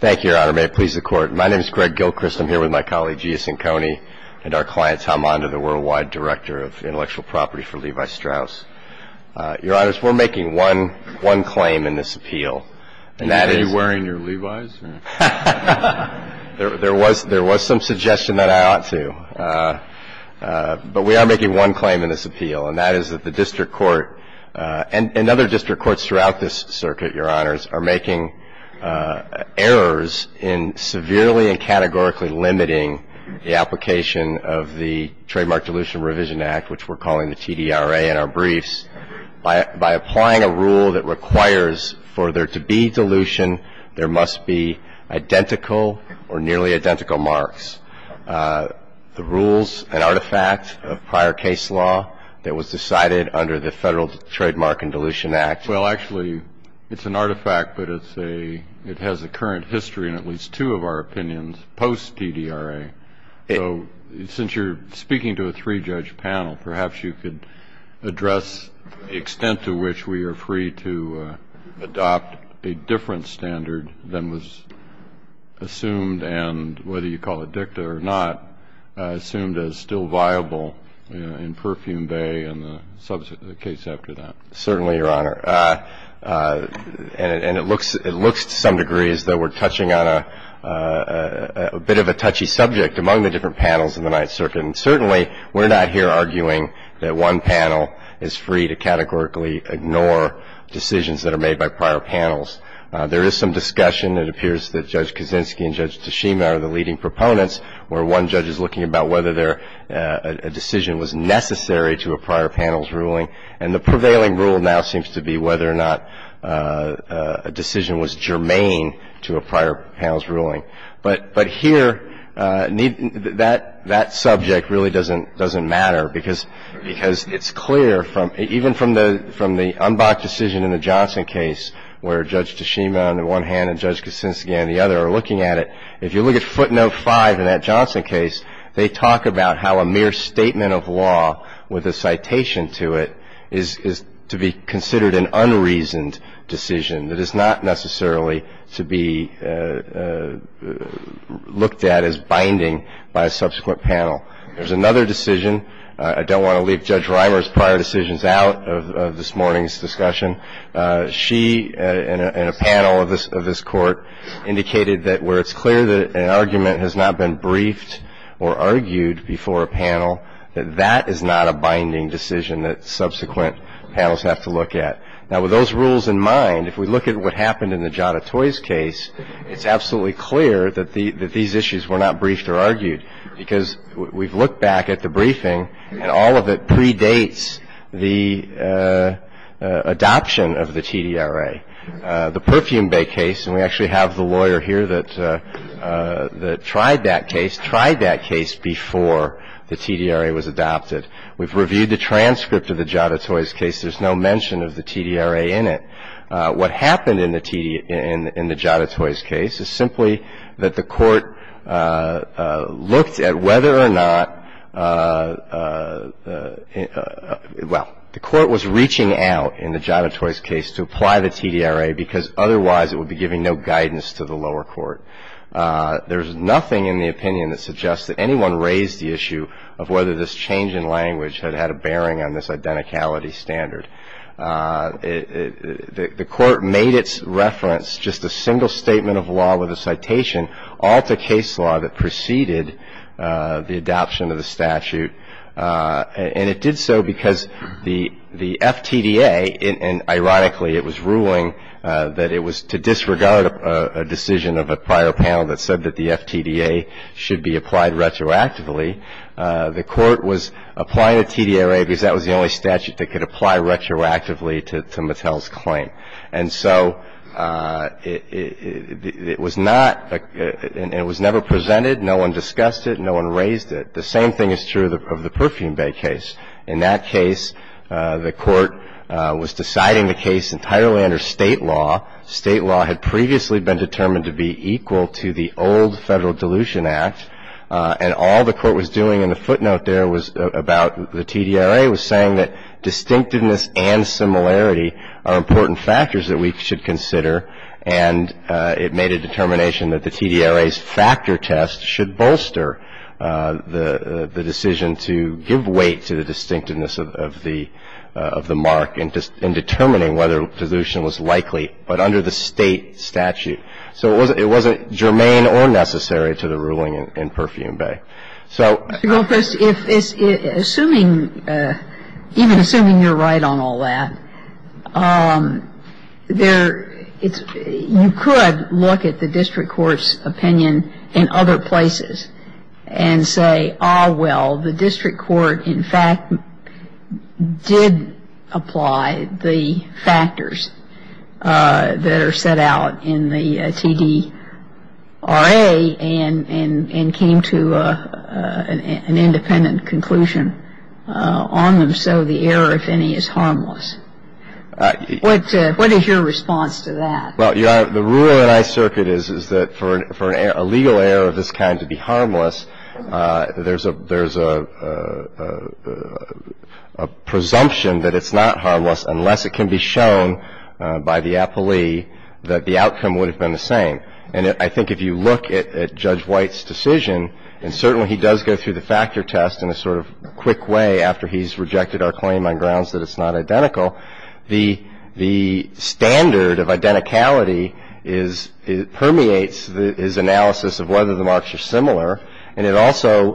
Thank you, Your Honor. May it please the Court. My name is Greg Gilchrist. I'm here with my colleague, Gia Sinconi, and our client, Tom Mondo, the Worldwide Director of Intellectual Property for Levi Strauss. Your Honor, we're making one claim in this appeal. Are you wearing your Levi's? There was some suggestion that I ought to. But we are making one claim in this appeal, and that is that the District Court and other district courts throughout this circuit, Your Honors, are making errors in severely and categorically limiting the application of the Trademark Dilution Revision Act, which we're calling the TDRA in our briefs. By applying a rule that requires for there to be dilution, there must be identical or nearly identical marks. The rules, an artifact of prior case law that was decided under the Federal Trademark and Dilution Act. Well, actually, it's an artifact, but it has a current history in at least two of our opinions post-TDRA. So since you're speaking to a three-judge panel, perhaps you could address the extent to which we are free to adopt a different standard than was assumed and, whether you call it dicta or not, assumed as still viable in Perfume Bay and the case after that. Certainly, Your Honor. And it looks to some degree as though we're touching on a bit of a touchy subject among the different panels in the Ninth Circuit. And certainly, we're not here arguing that one panel is free to categorically ignore decisions that are made by prior panels. There is some discussion. It appears that Judge Kaczynski and Judge Tashima are the leading proponents, where one judge is looking about whether a decision was necessary to a prior panel's ruling. And the prevailing rule now seems to be whether or not a decision was germane to a prior panel's ruling. But here, that subject really doesn't matter because it's clear, even from the unblocked decision in the Johnson case, where Judge Tashima on the one hand and Judge Kaczynski on the other are looking at it, if you look at footnote 5 in that Johnson case, they talk about how a mere statement of law with a citation to it is to be considered an unreasoned decision. That is not necessarily to be looked at as binding by a subsequent panel. There's another decision. I don't want to leave Judge Reimer's prior decisions out of this morning's discussion. She, in a panel of this Court, indicated that where it's clear that an argument has not been briefed or argued before a panel, that that is not a binding decision that subsequent panels have to look at. Now, with those rules in mind, if we look at what happened in the Giada Toys case, it's absolutely clear that these issues were not briefed or argued because we've looked back at the briefing and all of it predates the adoption of the TDRA. The Perfume Bay case, and we actually have the lawyer here that tried that case, tried that case before the TDRA was adopted. We've reviewed the transcript of the Giada Toys case. There's no mention of the TDRA in it. What happened in the Giada Toys case is simply that the Court looked at whether or not, well, the Court was reaching out in the Giada Toys case to apply the TDRA because otherwise it would be giving no guidance to the lower court. There's nothing in the opinion that suggests that anyone raised the issue of whether this change in language had had a bearing on this identicality standard. The Court made its reference, just a single statement of law with a citation, all to case law that preceded the adoption of the statute, and it did so because the FTDA, and ironically it was ruling that it was to disregard a decision of a prior panel that said that the FTDA should be applied retroactively. The Court was applying the TDRA because that was the only statute that could apply retroactively to Mattel's claim. And so it was not, and it was never presented. No one discussed it. No one raised it. The same thing is true of the Perfume Bay case. In that case, the Court was deciding the case entirely under State law. State law had previously been determined to be equal to the old Federal Dilution Act, and all the Court was doing in the footnote there was about the TDRA was saying that distinctiveness and similarity are important factors that we should consider, and it made a determination that the TDRA's factor test should bolster the decision to give weight to the distinctiveness of the mark in determining whether dilution was likely, but under the State statute. So it wasn't germane or necessary to the ruling in Perfume Bay. MS. GOTTLIEB Well, Chris, assuming, even assuming you're right on all that, there, it's, you could look at the district court's opinion in other places and say, ah, well, the district court, in fact, did apply the factors that are set out in the TDRA and came to an independent conclusion on them. So the error, if any, is harmless. What is your response to that? Well, Your Honor, the rule in my circuit is that for a legal error of this kind to be harmless, there's a presumption that it's not harmless unless it can be shown by the appellee that the outcome would have been the same. And I think if you look at Judge White's decision, and certainly he does go through the factor test in a sort of quick way after he's rejected our claim on grounds that it's not identical, the standard of identicality permeates his analysis of whether the marks are similar, and it also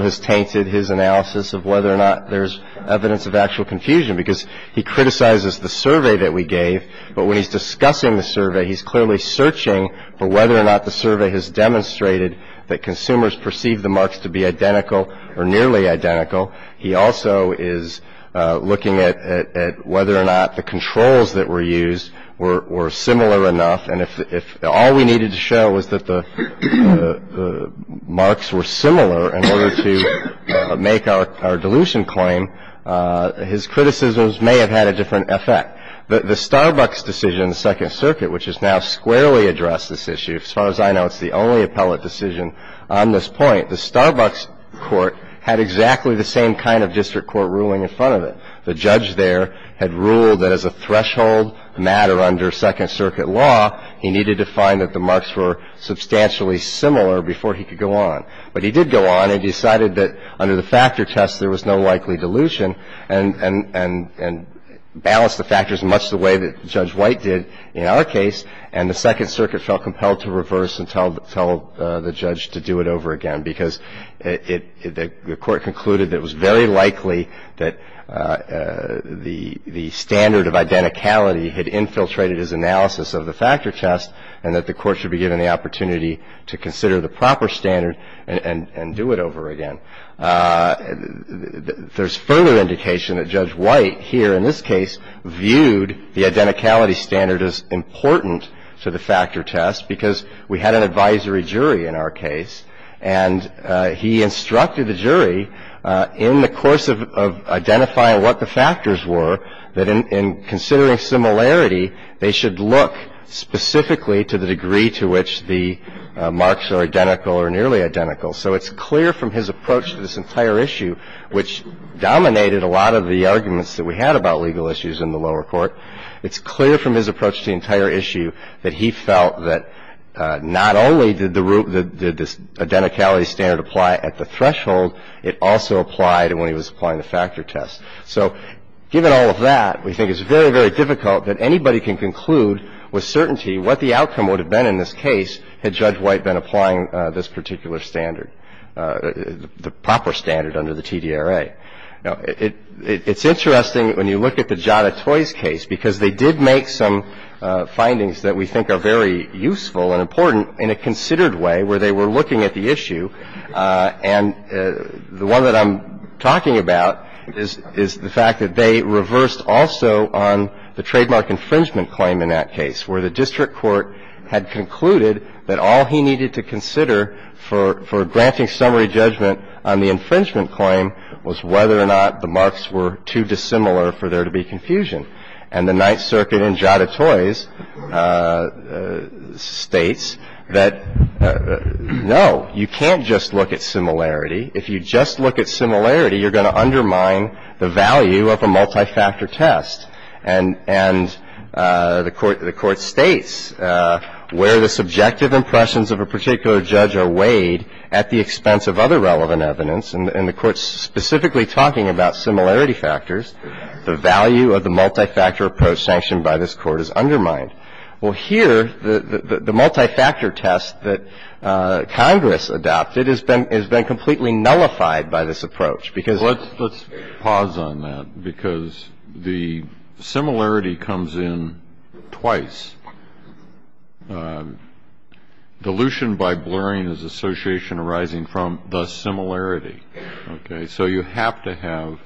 has tainted his analysis of whether or not there's evidence of actual confusion because he criticizes the survey that we gave, but when he's discussing the survey, he's clearly searching for whether or not the survey has demonstrated that consumers perceive the marks to be identical or nearly identical. He also is looking at whether or not the controls that were used were similar enough, and if all we needed to show was that the marks were similar in order to make our dilution claim, his criticisms may have had a different effect. The Starbucks decision in the Second Circuit, which has now squarely addressed this issue, as far as I know it's the only appellate decision on this point, the Starbucks court had exactly the same kind of district court ruling in front of it. The judge there had ruled that as a threshold matter under Second Circuit law, he needed to find that the marks were substantially similar before he could go on, but he did go on and decided that under the factor test there was no likely dilution and balanced the factors much the way that Judge White did in our case, and the Second Circuit felt compelled to reverse and tell the judge to do it over again because the court concluded that it was very likely that the standard of identicality had infiltrated his analysis of the factor test and that the court should be given the opportunity to consider the proper standard and do it over again. There's further indication that Judge White here in this case viewed the identicality standard as important to the factor test because we had an advisory jury in our case, and he instructed the jury in the course of identifying what the factors were that in considering similarity, they should look specifically to the degree to which the marks are identical or nearly identical. So it's clear from his approach to this entire issue, which dominated a lot of the arguments that we had about legal issues in the lower court, it's clear from his approach to the entire issue that he felt that not only did the identicality standard apply at the threshold, it also applied when he was applying the factor test. So given all of that, we think it's very, very difficult that anybody can conclude with certainty what the outcome would have been in this case had Judge White been applying this particular standard, the proper standard under the TDRA. Now, it's interesting when you look at the Giada Toys case because they did make some findings that we think are very useful and important in a considered way where they were looking at the issue. And the one that I'm talking about is the fact that they reversed also on the trademark infringement claim in that case where the district court had concluded that all he needed to consider for granting summary judgment on the infringement claim was whether or not the marks were too dissimilar for there to be confusion. And the Ninth Circuit in Giada Toys states that, no, you can't just look at similarity. If you just look at similarity, you're going to undermine the value of a multifactor test. And the Court states where the subjective impressions of a particular judge are weighed at the expense of other relevant evidence. And the Court's specifically talking about similarity factors. The value of the multifactor approach sanctioned by this Court is undermined. Well, here, the multifactor test that Congress adopted has been completely nullified Similarity comes in twice. Dilution by blurring is association arising from the similarity. So you have to have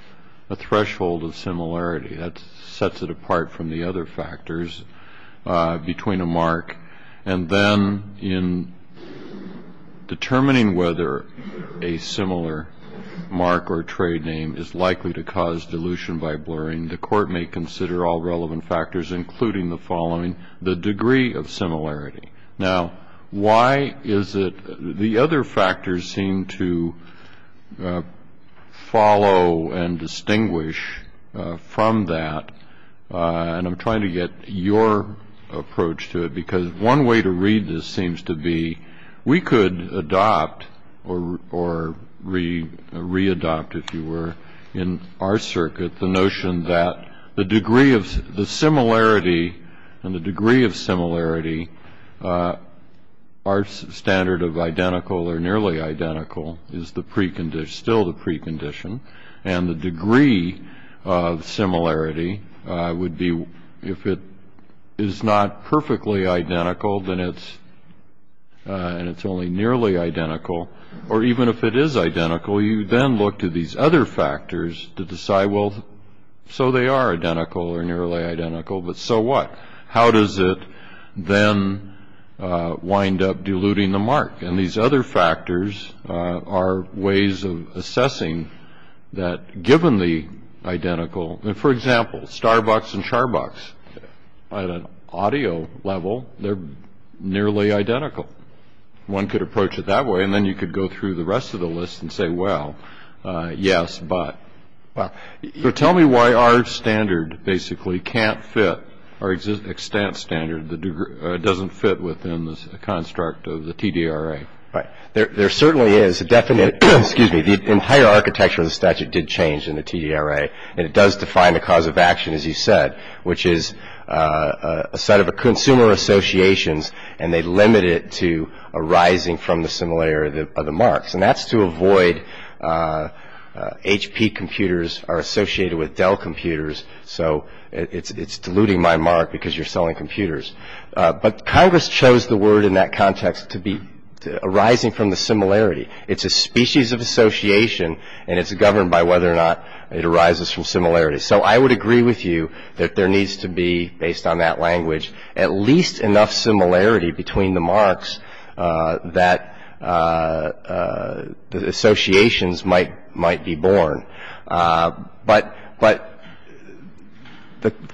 a threshold of similarity. That sets it apart from the other factors between a mark. And then in determining whether a similar mark or trade name is likely to cause dilution by blurring, the Court may consider all relevant factors, including the following, the degree of similarity. Now, why is it the other factors seem to follow and distinguish from that? And I'm trying to get your approach to it, because one way to read this seems to be we could adopt or readopt, if you were, in our circuit the notion that the degree of the similarity and the degree of similarity are standard of identical or nearly identical is the precondition, still the precondition, and the degree of similarity would be if it is not perfectly identical, then it's only nearly identical, or even if it is identical, you then look to these other factors to decide, well, so they are identical or nearly identical, but so what? How does it then wind up diluting the mark? And these other factors are ways of assessing that, given the identical, and for example, Starbucks and Sharbox, at an audio level, they're nearly identical. One could approach it that way, and then you could go through the rest of the list and say, well, yes, but. So tell me why our standard basically can't fit, our extent standard that doesn't fit within the construct of the TDRA. Right. There certainly is a definite, excuse me, the entire architecture of the statute did change in the TDRA, and it does define the cause of action, as you said, which is a set of consumer associations, and they limit it to arising from the similarity of the marks, and that's to avoid HP computers are associated with Dell computers, so it's diluting my mark because you're selling computers. But Congress chose the word in that context to be arising from the similarity. It's a species of association, and it's governed by whether or not it arises from similarity. So I would agree with you that there needs to be, based on that language, at least enough similarity between the marks that associations might be born. But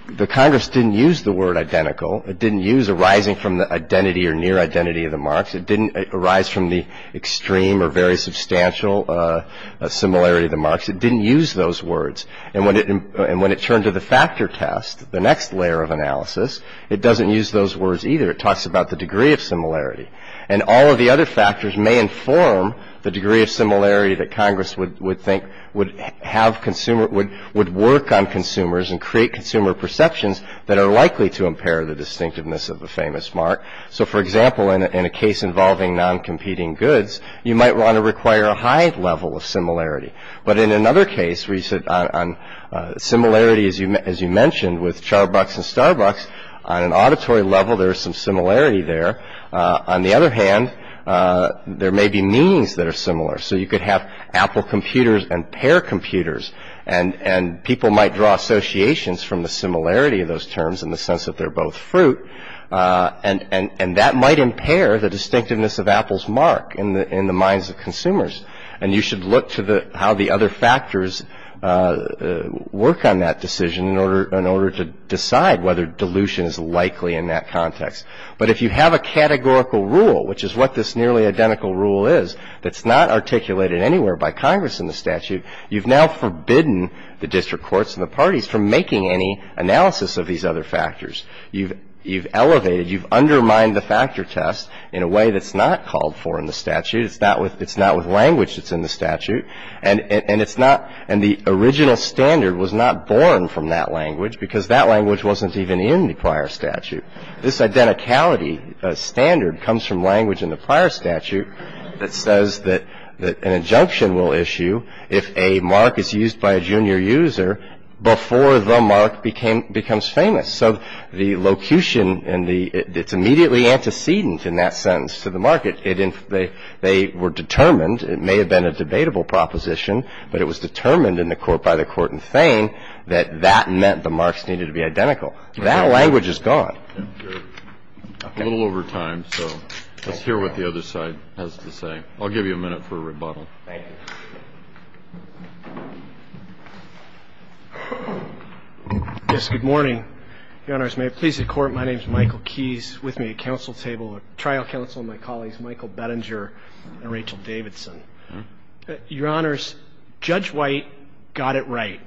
the Congress didn't use the word identical. It didn't use arising from the identity or near identity of the marks. It didn't arise from the extreme or very substantial similarity of the marks. It didn't use those words. And when it turned to the factor test, the next layer of analysis, it doesn't use those words either. It talks about the degree of similarity. And all of the other factors may inform the degree of similarity that Congress would think would have consumer, would work on consumers and create consumer perceptions that are likely to impair the distinctiveness of a famous mark. So, for example, in a case involving non-competing goods, you might want to require a high level of similarity. But in another case, where you said on similarity, as you mentioned, with Charbucks and Starbucks, on an auditory level there is some similarity there. On the other hand, there may be meanings that are similar. So you could have Apple computers and Pear computers, and people might draw associations from the similarity of those terms in the sense that they're both fruit. And that might impair the distinctiveness of Apple's mark in the minds of consumers. And you should look to how the other factors work on that decision in order to decide whether dilution is likely in that context. But if you have a categorical rule, which is what this nearly identical rule is, that's not articulated anywhere by Congress in the statute, you've now forbidden the district courts and the parties from making any analysis of these other factors. You've elevated, you've undermined the factor test in a way that's not called for in the statute. It's not with language that's in the statute. And the original standard was not born from that language because that language wasn't even in the prior statute. This identicality standard comes from language in the prior statute that says that an injunction will issue if a mark is used by a junior user before the mark becomes famous. So the locution and the – it's immediately antecedent in that sense to the market. They were determined, it may have been a debatable proposition, but it was determined in the court by the court in Thain that that meant the marks needed to be identical. That language is gone. A little over time, so let's hear what the other side has to say. I'll give you a minute for a rebuttal. Thank you. Yes. Good morning. Your Honors, may it please the Court, my name is Michael Keyes. With me at counsel table are trial counsel and my colleagues, Michael Bettinger and Rachel Davidson. Your Honors, Judge White got it right.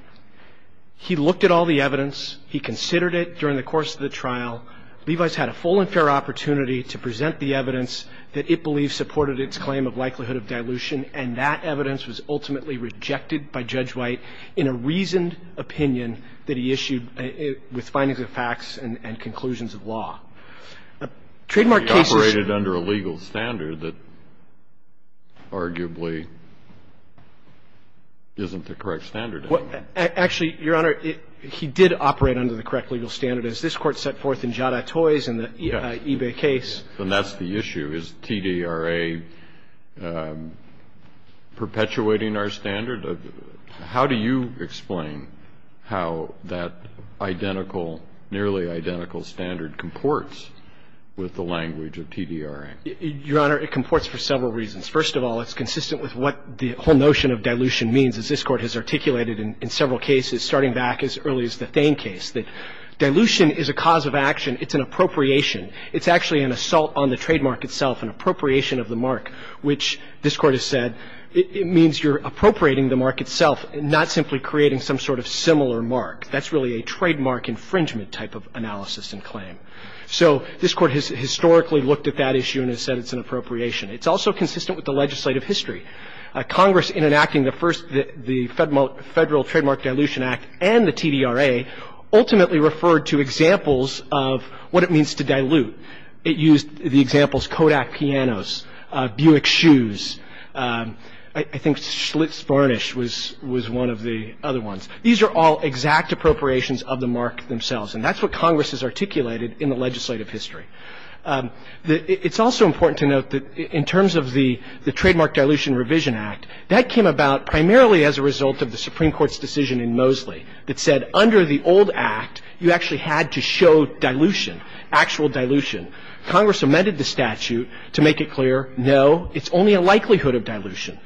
He looked at all the evidence. He considered it during the course of the trial. Levi's had a full and fair opportunity to present the evidence that it believes supported its claim of likelihood of dilution, and that evidence was ultimately rejected by Judge White in a reasoned opinion that he issued with findings of facts and conclusions of law. Trademark cases – He operated under a legal standard that arguably isn't the correct standard. Actually, Your Honor, he did operate under the correct legal standard, as this Court set forth in Jada Toys and the eBay case. And that's the issue. Is TDRA perpetuating our standard? How do you explain how that identical, nearly identical standard comports with the language of TDRA? Your Honor, it comports for several reasons. First of all, it's consistent with what the whole notion of dilution means, as this Court has articulated in several cases, starting back as early as the Thain case, that dilution is a cause of action. It's an appropriation. It's actually an assault on the trademark itself, an appropriation of the mark, which this Court has said it means you're appropriating the mark itself, not simply creating some sort of similar mark. That's really a trademark infringement type of analysis and claim. So this Court has historically looked at that issue and has said it's an appropriation. It's also consistent with the legislative history. Congress, in enacting the first – the Federal Trademark Dilution Act and the TDRA, ultimately referred to examples of what it means to dilute. It used the examples Kodak pianos, Buick shoes. I think Schlitz varnish was one of the other ones. These are all exact appropriations of the mark themselves, and that's what Congress has articulated in the legislative history. It's also important to note that in terms of the Trademark Dilution Revision Act, that came about primarily as a result of the Supreme Court's decision in Mosley that said under the old act, you actually had to show dilution, actual dilution. Congress amended the statute to make it clear, no, it's only a likelihood of dilution.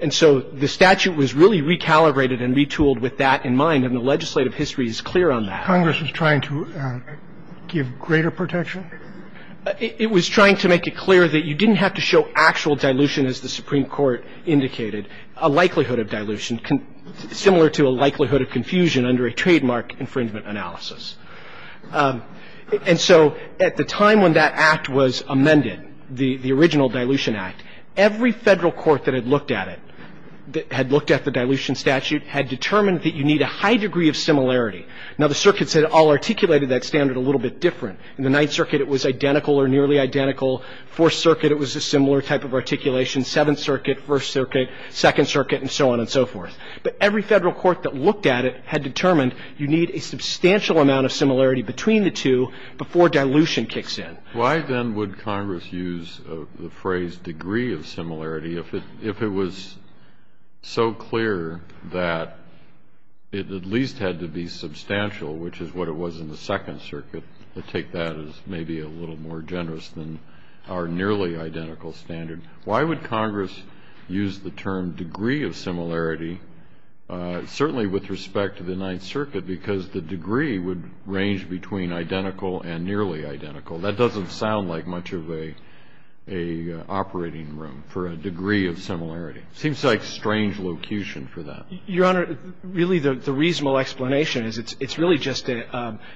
And so the statute was really recalibrated and retooled with that in mind, and the legislative history is clear on that. Roberts. Congress was trying to give greater protection? Carvin. It was trying to make it clear that you didn't have to show actual dilution, as the Supreme Court indicated, a likelihood of dilution, similar to a likelihood of confusion under a trademark infringement analysis. And so at the time when that act was amended, the original Dilution Act, every federal court that had looked at it, had looked at the dilution statute, had determined that you need a high degree of similarity. Now, the circuits had all articulated that standard a little bit different. In the Ninth Circuit, it was identical or nearly identical. Fourth Circuit, it was a similar type of articulation. Now, you can look at that in the second circuit, the first circuit, the second circuit, and so on and so forth. But every federal court that looked at it had determined you need a substantial amount of similarity between the two before dilution kicks in. Why, then, would Congress use the phrase degree of similarity, if it was so clear that it at least had to be substantial, which is what it was in the Second Circuit? I take that as maybe a little more generous than our nearly identical standard. Why would Congress use the term degree of similarity, certainly with respect to the Ninth Circuit? Because the degree would range between identical and nearly identical. That doesn't sound like much of a operating room for a degree of similarity. It seems like strange locution for that. Your Honor, really the reasonable explanation is it's really just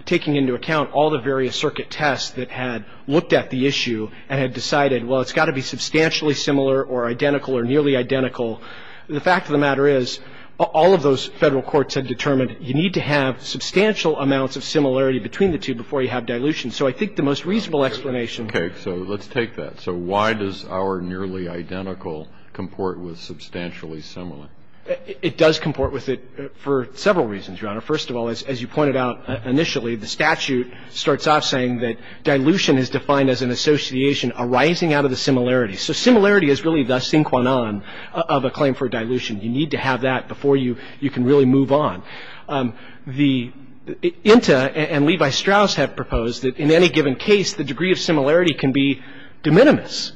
taking into account all the various circuit tests that had looked at the issue and had decided, well, it's got to be substantially similar or identical or nearly identical. The fact of the matter is all of those federal courts had determined you need to have substantial amounts of similarity between the two before you have dilution. So I think the most reasonable explanation. Okay. So let's take that. So why does our nearly identical comport with substantially similar? It does comport with it for several reasons, Your Honor. First of all, as you pointed out initially, the statute starts off saying that dilution is defined as an association arising out of the similarity. So similarity is really the sinquanan of a claim for dilution. You need to have that before you can really move on. proposed a degree of similarity between the two marks. The Inta and Levi Strauss have proposed that in any given case, the degree of similarity can be de minimis,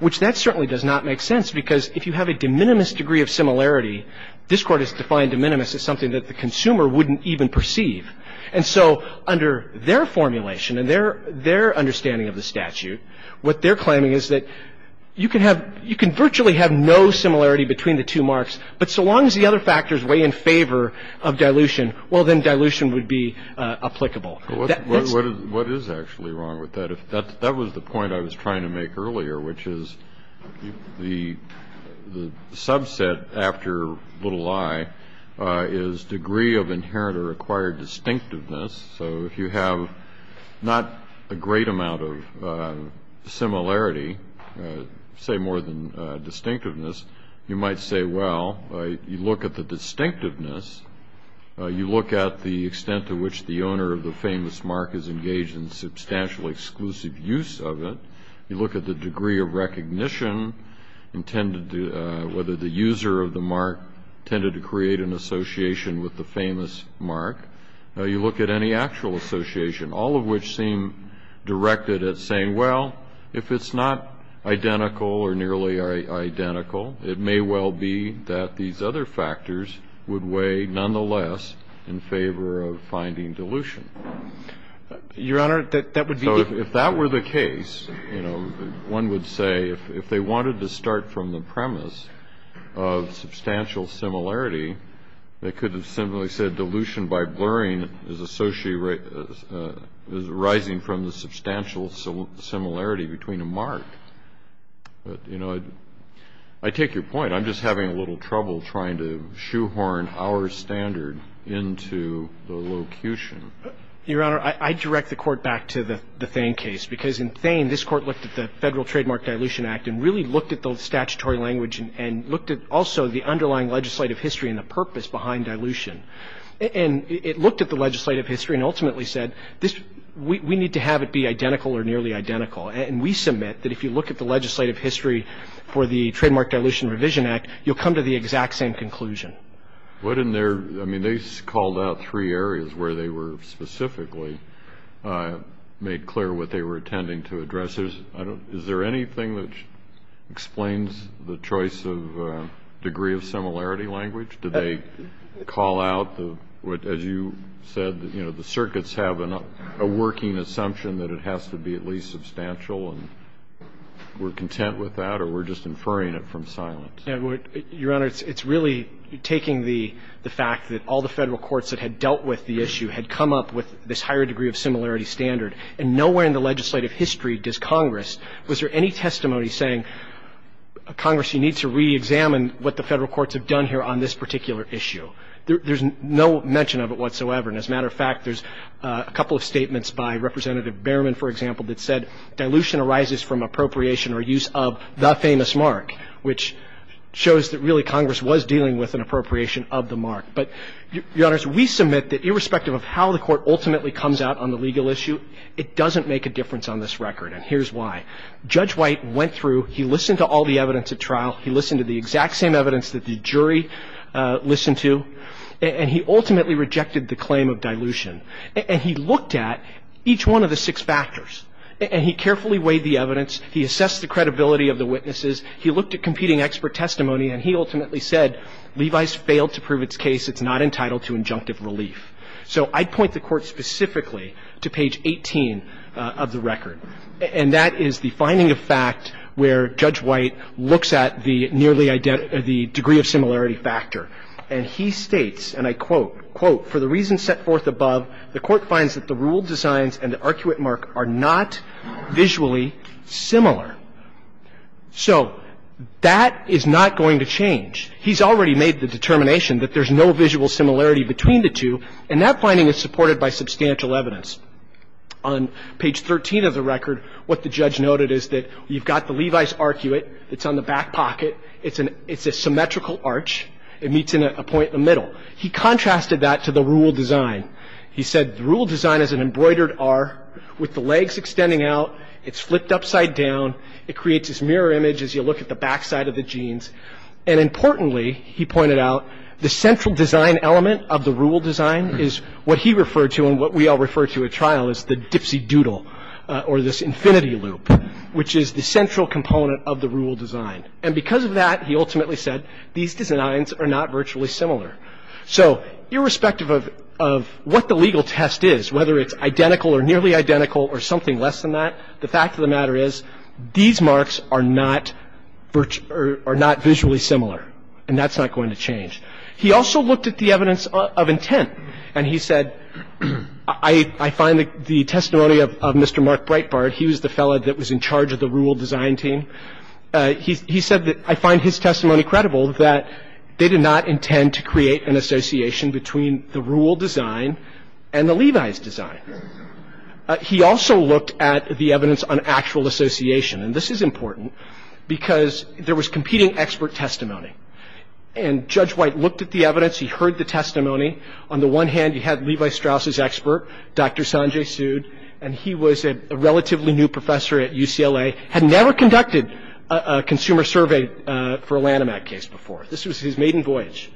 which that certainly does not make sense because if you have a de minimis degree of similarity, this Court has defined de minimis as something that the consumer wouldn't even perceive. And so under their formulation and their understanding of the statute, what they're claiming is that you can virtually have no similarity between the two marks, but so long as the other factors weigh in favor of dilution, well, then dilution would be applicable. What is actually wrong with that? That was the point I was trying to make earlier, which is the subset after little i is degree of inherent or acquired distinctiveness. So if you have not a great amount of similarity, say more than distinctiveness, you might say, well, you look at the distinctiveness. You look at the extent to which the owner of the famous mark is engaged in substantially exclusive use of it. You look at the degree of recognition intended to whether the user of the mark tended to create an association with the famous mark. You look at any actual association, all of which seem directed at saying, well, if it's not identical or nearly identical, it may well be that these other factors would weigh nonetheless in favor of finding dilution. Your Honor, that would be the case. One would say if they wanted to start from the premise of substantial similarity, they could have simply said dilution by blurring is arising from the substantial similarity between a mark. But, you know, I take your point. I'm just having a little trouble trying to shoehorn our standard into the locution. Your Honor, I direct the Court back to the Thain case, because in Thain this Court looked at the Federal Trademark Dilution Act and really looked at the statutory language and looked at also the underlying legislative history and the purpose behind dilution. And it looked at the legislative history and ultimately said we need to have it be identical or nearly identical. And we submit that if you look at the legislative history for the Trademark Dilution Revision Act, you'll come to the exact same conclusion. What in their ñ I mean, they called out three areas where they were specifically made clear what they were intending to address. Is there anything that explains the choice of degree of similarity language? Do they call out the ñ as you said, you know, the circuits have a working assumption that it has to be at least substantial, and we're content with that, or we're just inferring it from silence? Your Honor, it's really taking the fact that all the Federal courts that had dealt with the issue had come up with this higher degree of similarity standard, and nowhere in the legislative history does Congress ñ was there any testimony saying, Congress, you need to reexamine what the Federal courts have done here on this particular issue? There's no mention of it whatsoever. And as a matter of fact, there's a couple of statements by Representative Behrman, for example, that said dilution arises from appropriation or use of the famous mark, which shows that really Congress was dealing with an appropriation of the mark. But, Your Honors, we submit that irrespective of how the Court ultimately comes out on the legal issue, it doesn't make a difference on this record, and here's why. Judge White went through, he listened to all the evidence at trial, he listened to the exact same evidence that the jury listened to, and he ultimately rejected the claim of dilution. And he looked at each one of the six factors, and he carefully weighed the evidence, he assessed the credibility of the witnesses, he looked at competing expert testimony, and he ultimately said, Levi's failed to prove its case, it's not entitled to injunctive relief. So I'd point the Court specifically to page 18 of the record, and that is the finding of fact where Judge White looks at the nearly ñ the degree of similarity factor. And he states, and I quote, ìFor the reasons set forth above, the Court finds that the rule designs and the arcuate mark are not visually similar.î So that is not going to change. He's already made the determination that there's no visual similarity between the two, and that finding is supported by substantial evidence. On page 13 of the record, what the judge noted is that you've got the Levi's arcuate, it's on the back pocket, it's a symmetrical arch, it meets in a point in the middle. He contrasted that to the rule design. He said the rule design is an embroidered R with the legs extending out, it's flipped upside down, it creates this mirror image as you look at the backside of the jeans. And importantly, he pointed out, the central design element of the rule design is what he referred to and what we all refer to at trial as the dipsy doodle or this infinity loop, which is the central component of the rule design. And because of that, he ultimately said, these designs are not virtually similar. So irrespective of what the legal test is, whether it's identical or nearly identical or something less than that, the fact of the matter is, these marks are not visually similar, and that's not going to change. He also looked at the evidence of intent, and he said, I find the testimony of Mr. Mark Breitbart, he was the fellow that was in charge of the rule design team, he said that I find his testimony credible that they did not intend to create an association between the rule design and the Levi's design. He also looked at the evidence on actual association, and this is important because there was competing expert testimony, and Judge White looked at the evidence, he heard the testimony. On the one hand, you had Levi Strauss's expert, Dr. Sanjay Sood, and he was a relatively new professor at UCLA, had never conducted a consumer survey for a Lanham Act case before. This was his maiden voyage.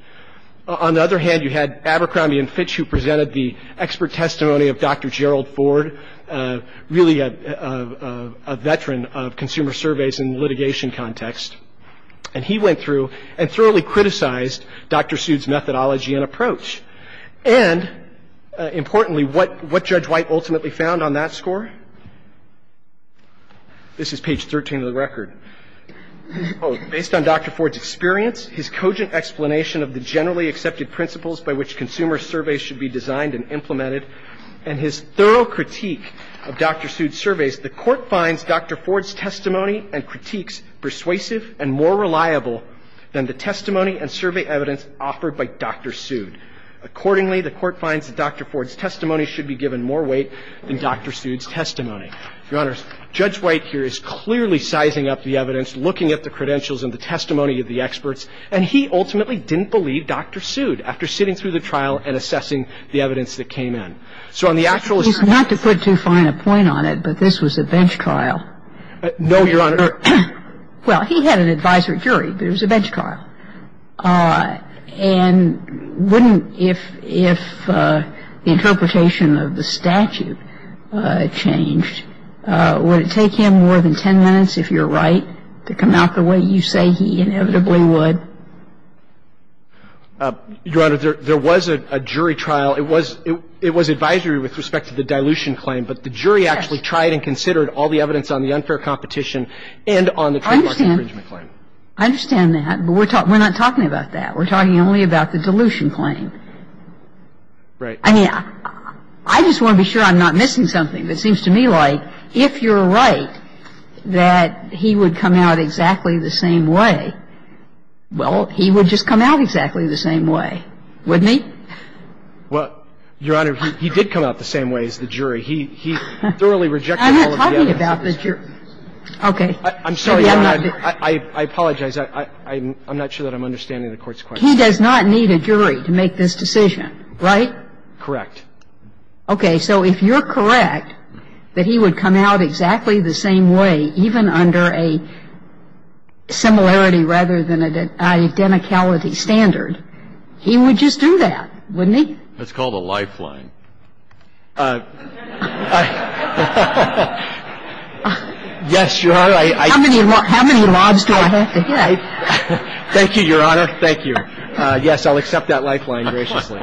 On the other hand, you had Abercrombie and Fitch who presented the expert testimony of Dr. Gerald Ford, really a veteran of consumer surveys in litigation context, and he went through and thoroughly criticized Dr. Sood's methodology and approach. And importantly, what Judge White ultimately found on that score? This is page 13 of the record. The court finds that Dr. Ford's testimony and critiques persuasive and more reliable than the testimony and survey evidence offered by Dr. Sood. Accordingly, the court finds that Dr. Ford's testimony should be given more weight than Dr. Sood's testimony. Your Honors, Judge White here is clearly sizing up the evidence. He's not to put too fine a point on it, but this was a bench trial. No, Your Honor. Well, he had an advisory jury, but it was a bench trial. And wouldn't if the interpretation of the statute changed, would it take him more than 10 minutes, if you're right, to come out the way you say he inevitably would? Your Honor, there was a jury trial. It was advisory with respect to the dilution claim, but the jury actually tried and considered all the evidence on the unfair competition and on the trademark infringement claim. I understand that, but we're not talking about that. We're talking only about the dilution claim. Right. I mean, I just want to be sure I'm not missing something. It seems to me like if you're right that he would come out exactly the same way, well, he would just come out exactly the same way, wouldn't he? Well, Your Honor, he did come out the same way as the jury. He thoroughly rejected all of the evidence. I'm not talking about the jury. Okay. I'm sorry, Your Honor. I apologize. I'm not sure that I'm understanding the Court's question. He does not need a jury to make this decision, right? Correct. Okay. So if you're correct that he would come out exactly the same way, even under a similarity rather than an identicality standard, he would just do that, wouldn't he? That's called a lifeline. Yes, Your Honor. How many mobs do I have to get? Thank you, Your Honor. Thank you. Yes, I'll accept that lifeline graciously.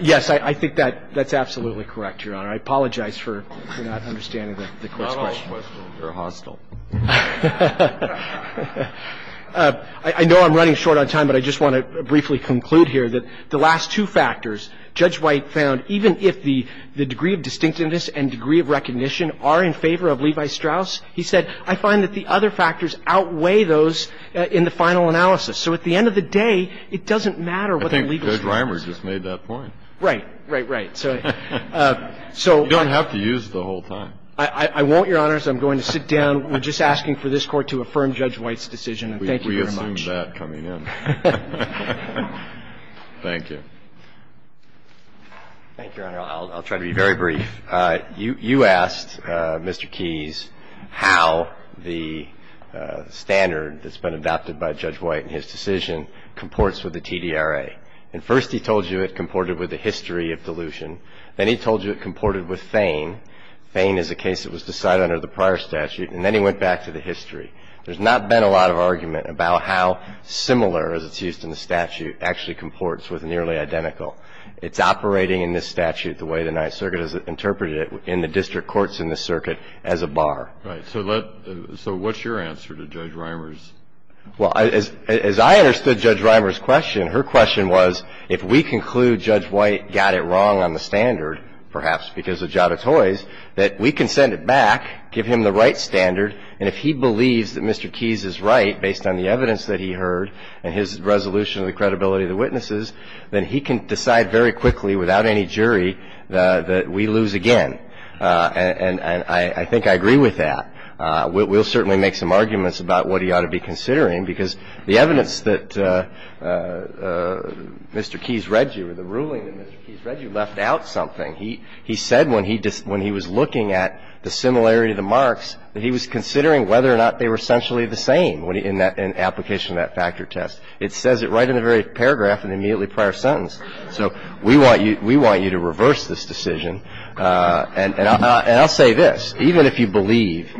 Yes, I think that's absolutely correct, Your Honor. I apologize for not understanding the Court's question. Not all questions are hostile. I know I'm running short on time, but I just want to briefly conclude here that the last two factors Judge White found, even if the degree of distinctiveness and degree of recognition are in favor of Levi Strauss, he said, I find that the other factors outweigh those in the final analysis. So at the end of the day, it doesn't matter what the legal standard is. Judge Reimer just made that point. Right, right, right. You don't have to use it the whole time. I won't, Your Honor, so I'm going to sit down. We're just asking for this Court to affirm Judge White's decision, and thank you very much. We assume that coming in. Thank you. Thank you, Your Honor. I'll try to be very brief. You asked, Mr. Keys, how the standard that's been adopted by Judge White in his decision comports with the TDRA. And first he told you it comported with the history of dilution. Then he told you it comported with Thane. Thane is a case that was decided under the prior statute. And then he went back to the history. There's not been a lot of argument about how similar, as it's used in the statute, actually comports with nearly identical. It's operating in this statute the way the Ninth Circuit has interpreted it in the district courts in the circuit as a bar. Right. So what's your answer to Judge Reimer's? Well, as I understood Judge Reimer's question, her question was, if we conclude Judge White got it wrong on the standard, perhaps because of Jada Toys, that we can send it back, give him the right standard, and if he believes that Mr. Keys is right based on the evidence that he heard and his resolution of the credibility of the witnesses, then he can decide very quickly without any jury that we lose again. And I think I agree with that. We'll certainly make some arguments about what he ought to be considering, because the evidence that Mr. Keys read you or the ruling that Mr. Keys read you left out something. He said when he was looking at the similarity of the marks that he was considering whether or not they were essentially the same in application of that factor test. It says it right in the very paragraph in the immediately prior sentence. So we want you to reverse this decision. And I'll say this. Even if you believe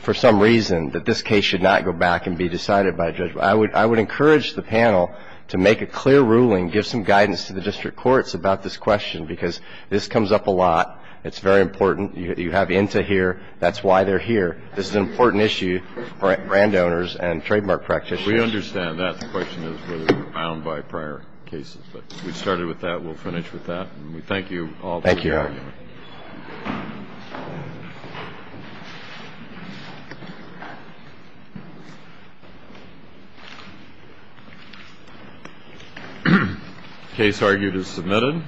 for some reason that this case should not go back and be decided by a judge, I would encourage the panel to make a clear ruling, give some guidance to the district courts about this question, because this comes up a lot. It's very important. You have into here. That's why they're here. This is an important issue for brand owners and trademark practitioners. We understand that. The question is whether we're bound by prior cases. But we started with that. We'll finish with that. And we thank you all. Thank you. Case argued is submitted.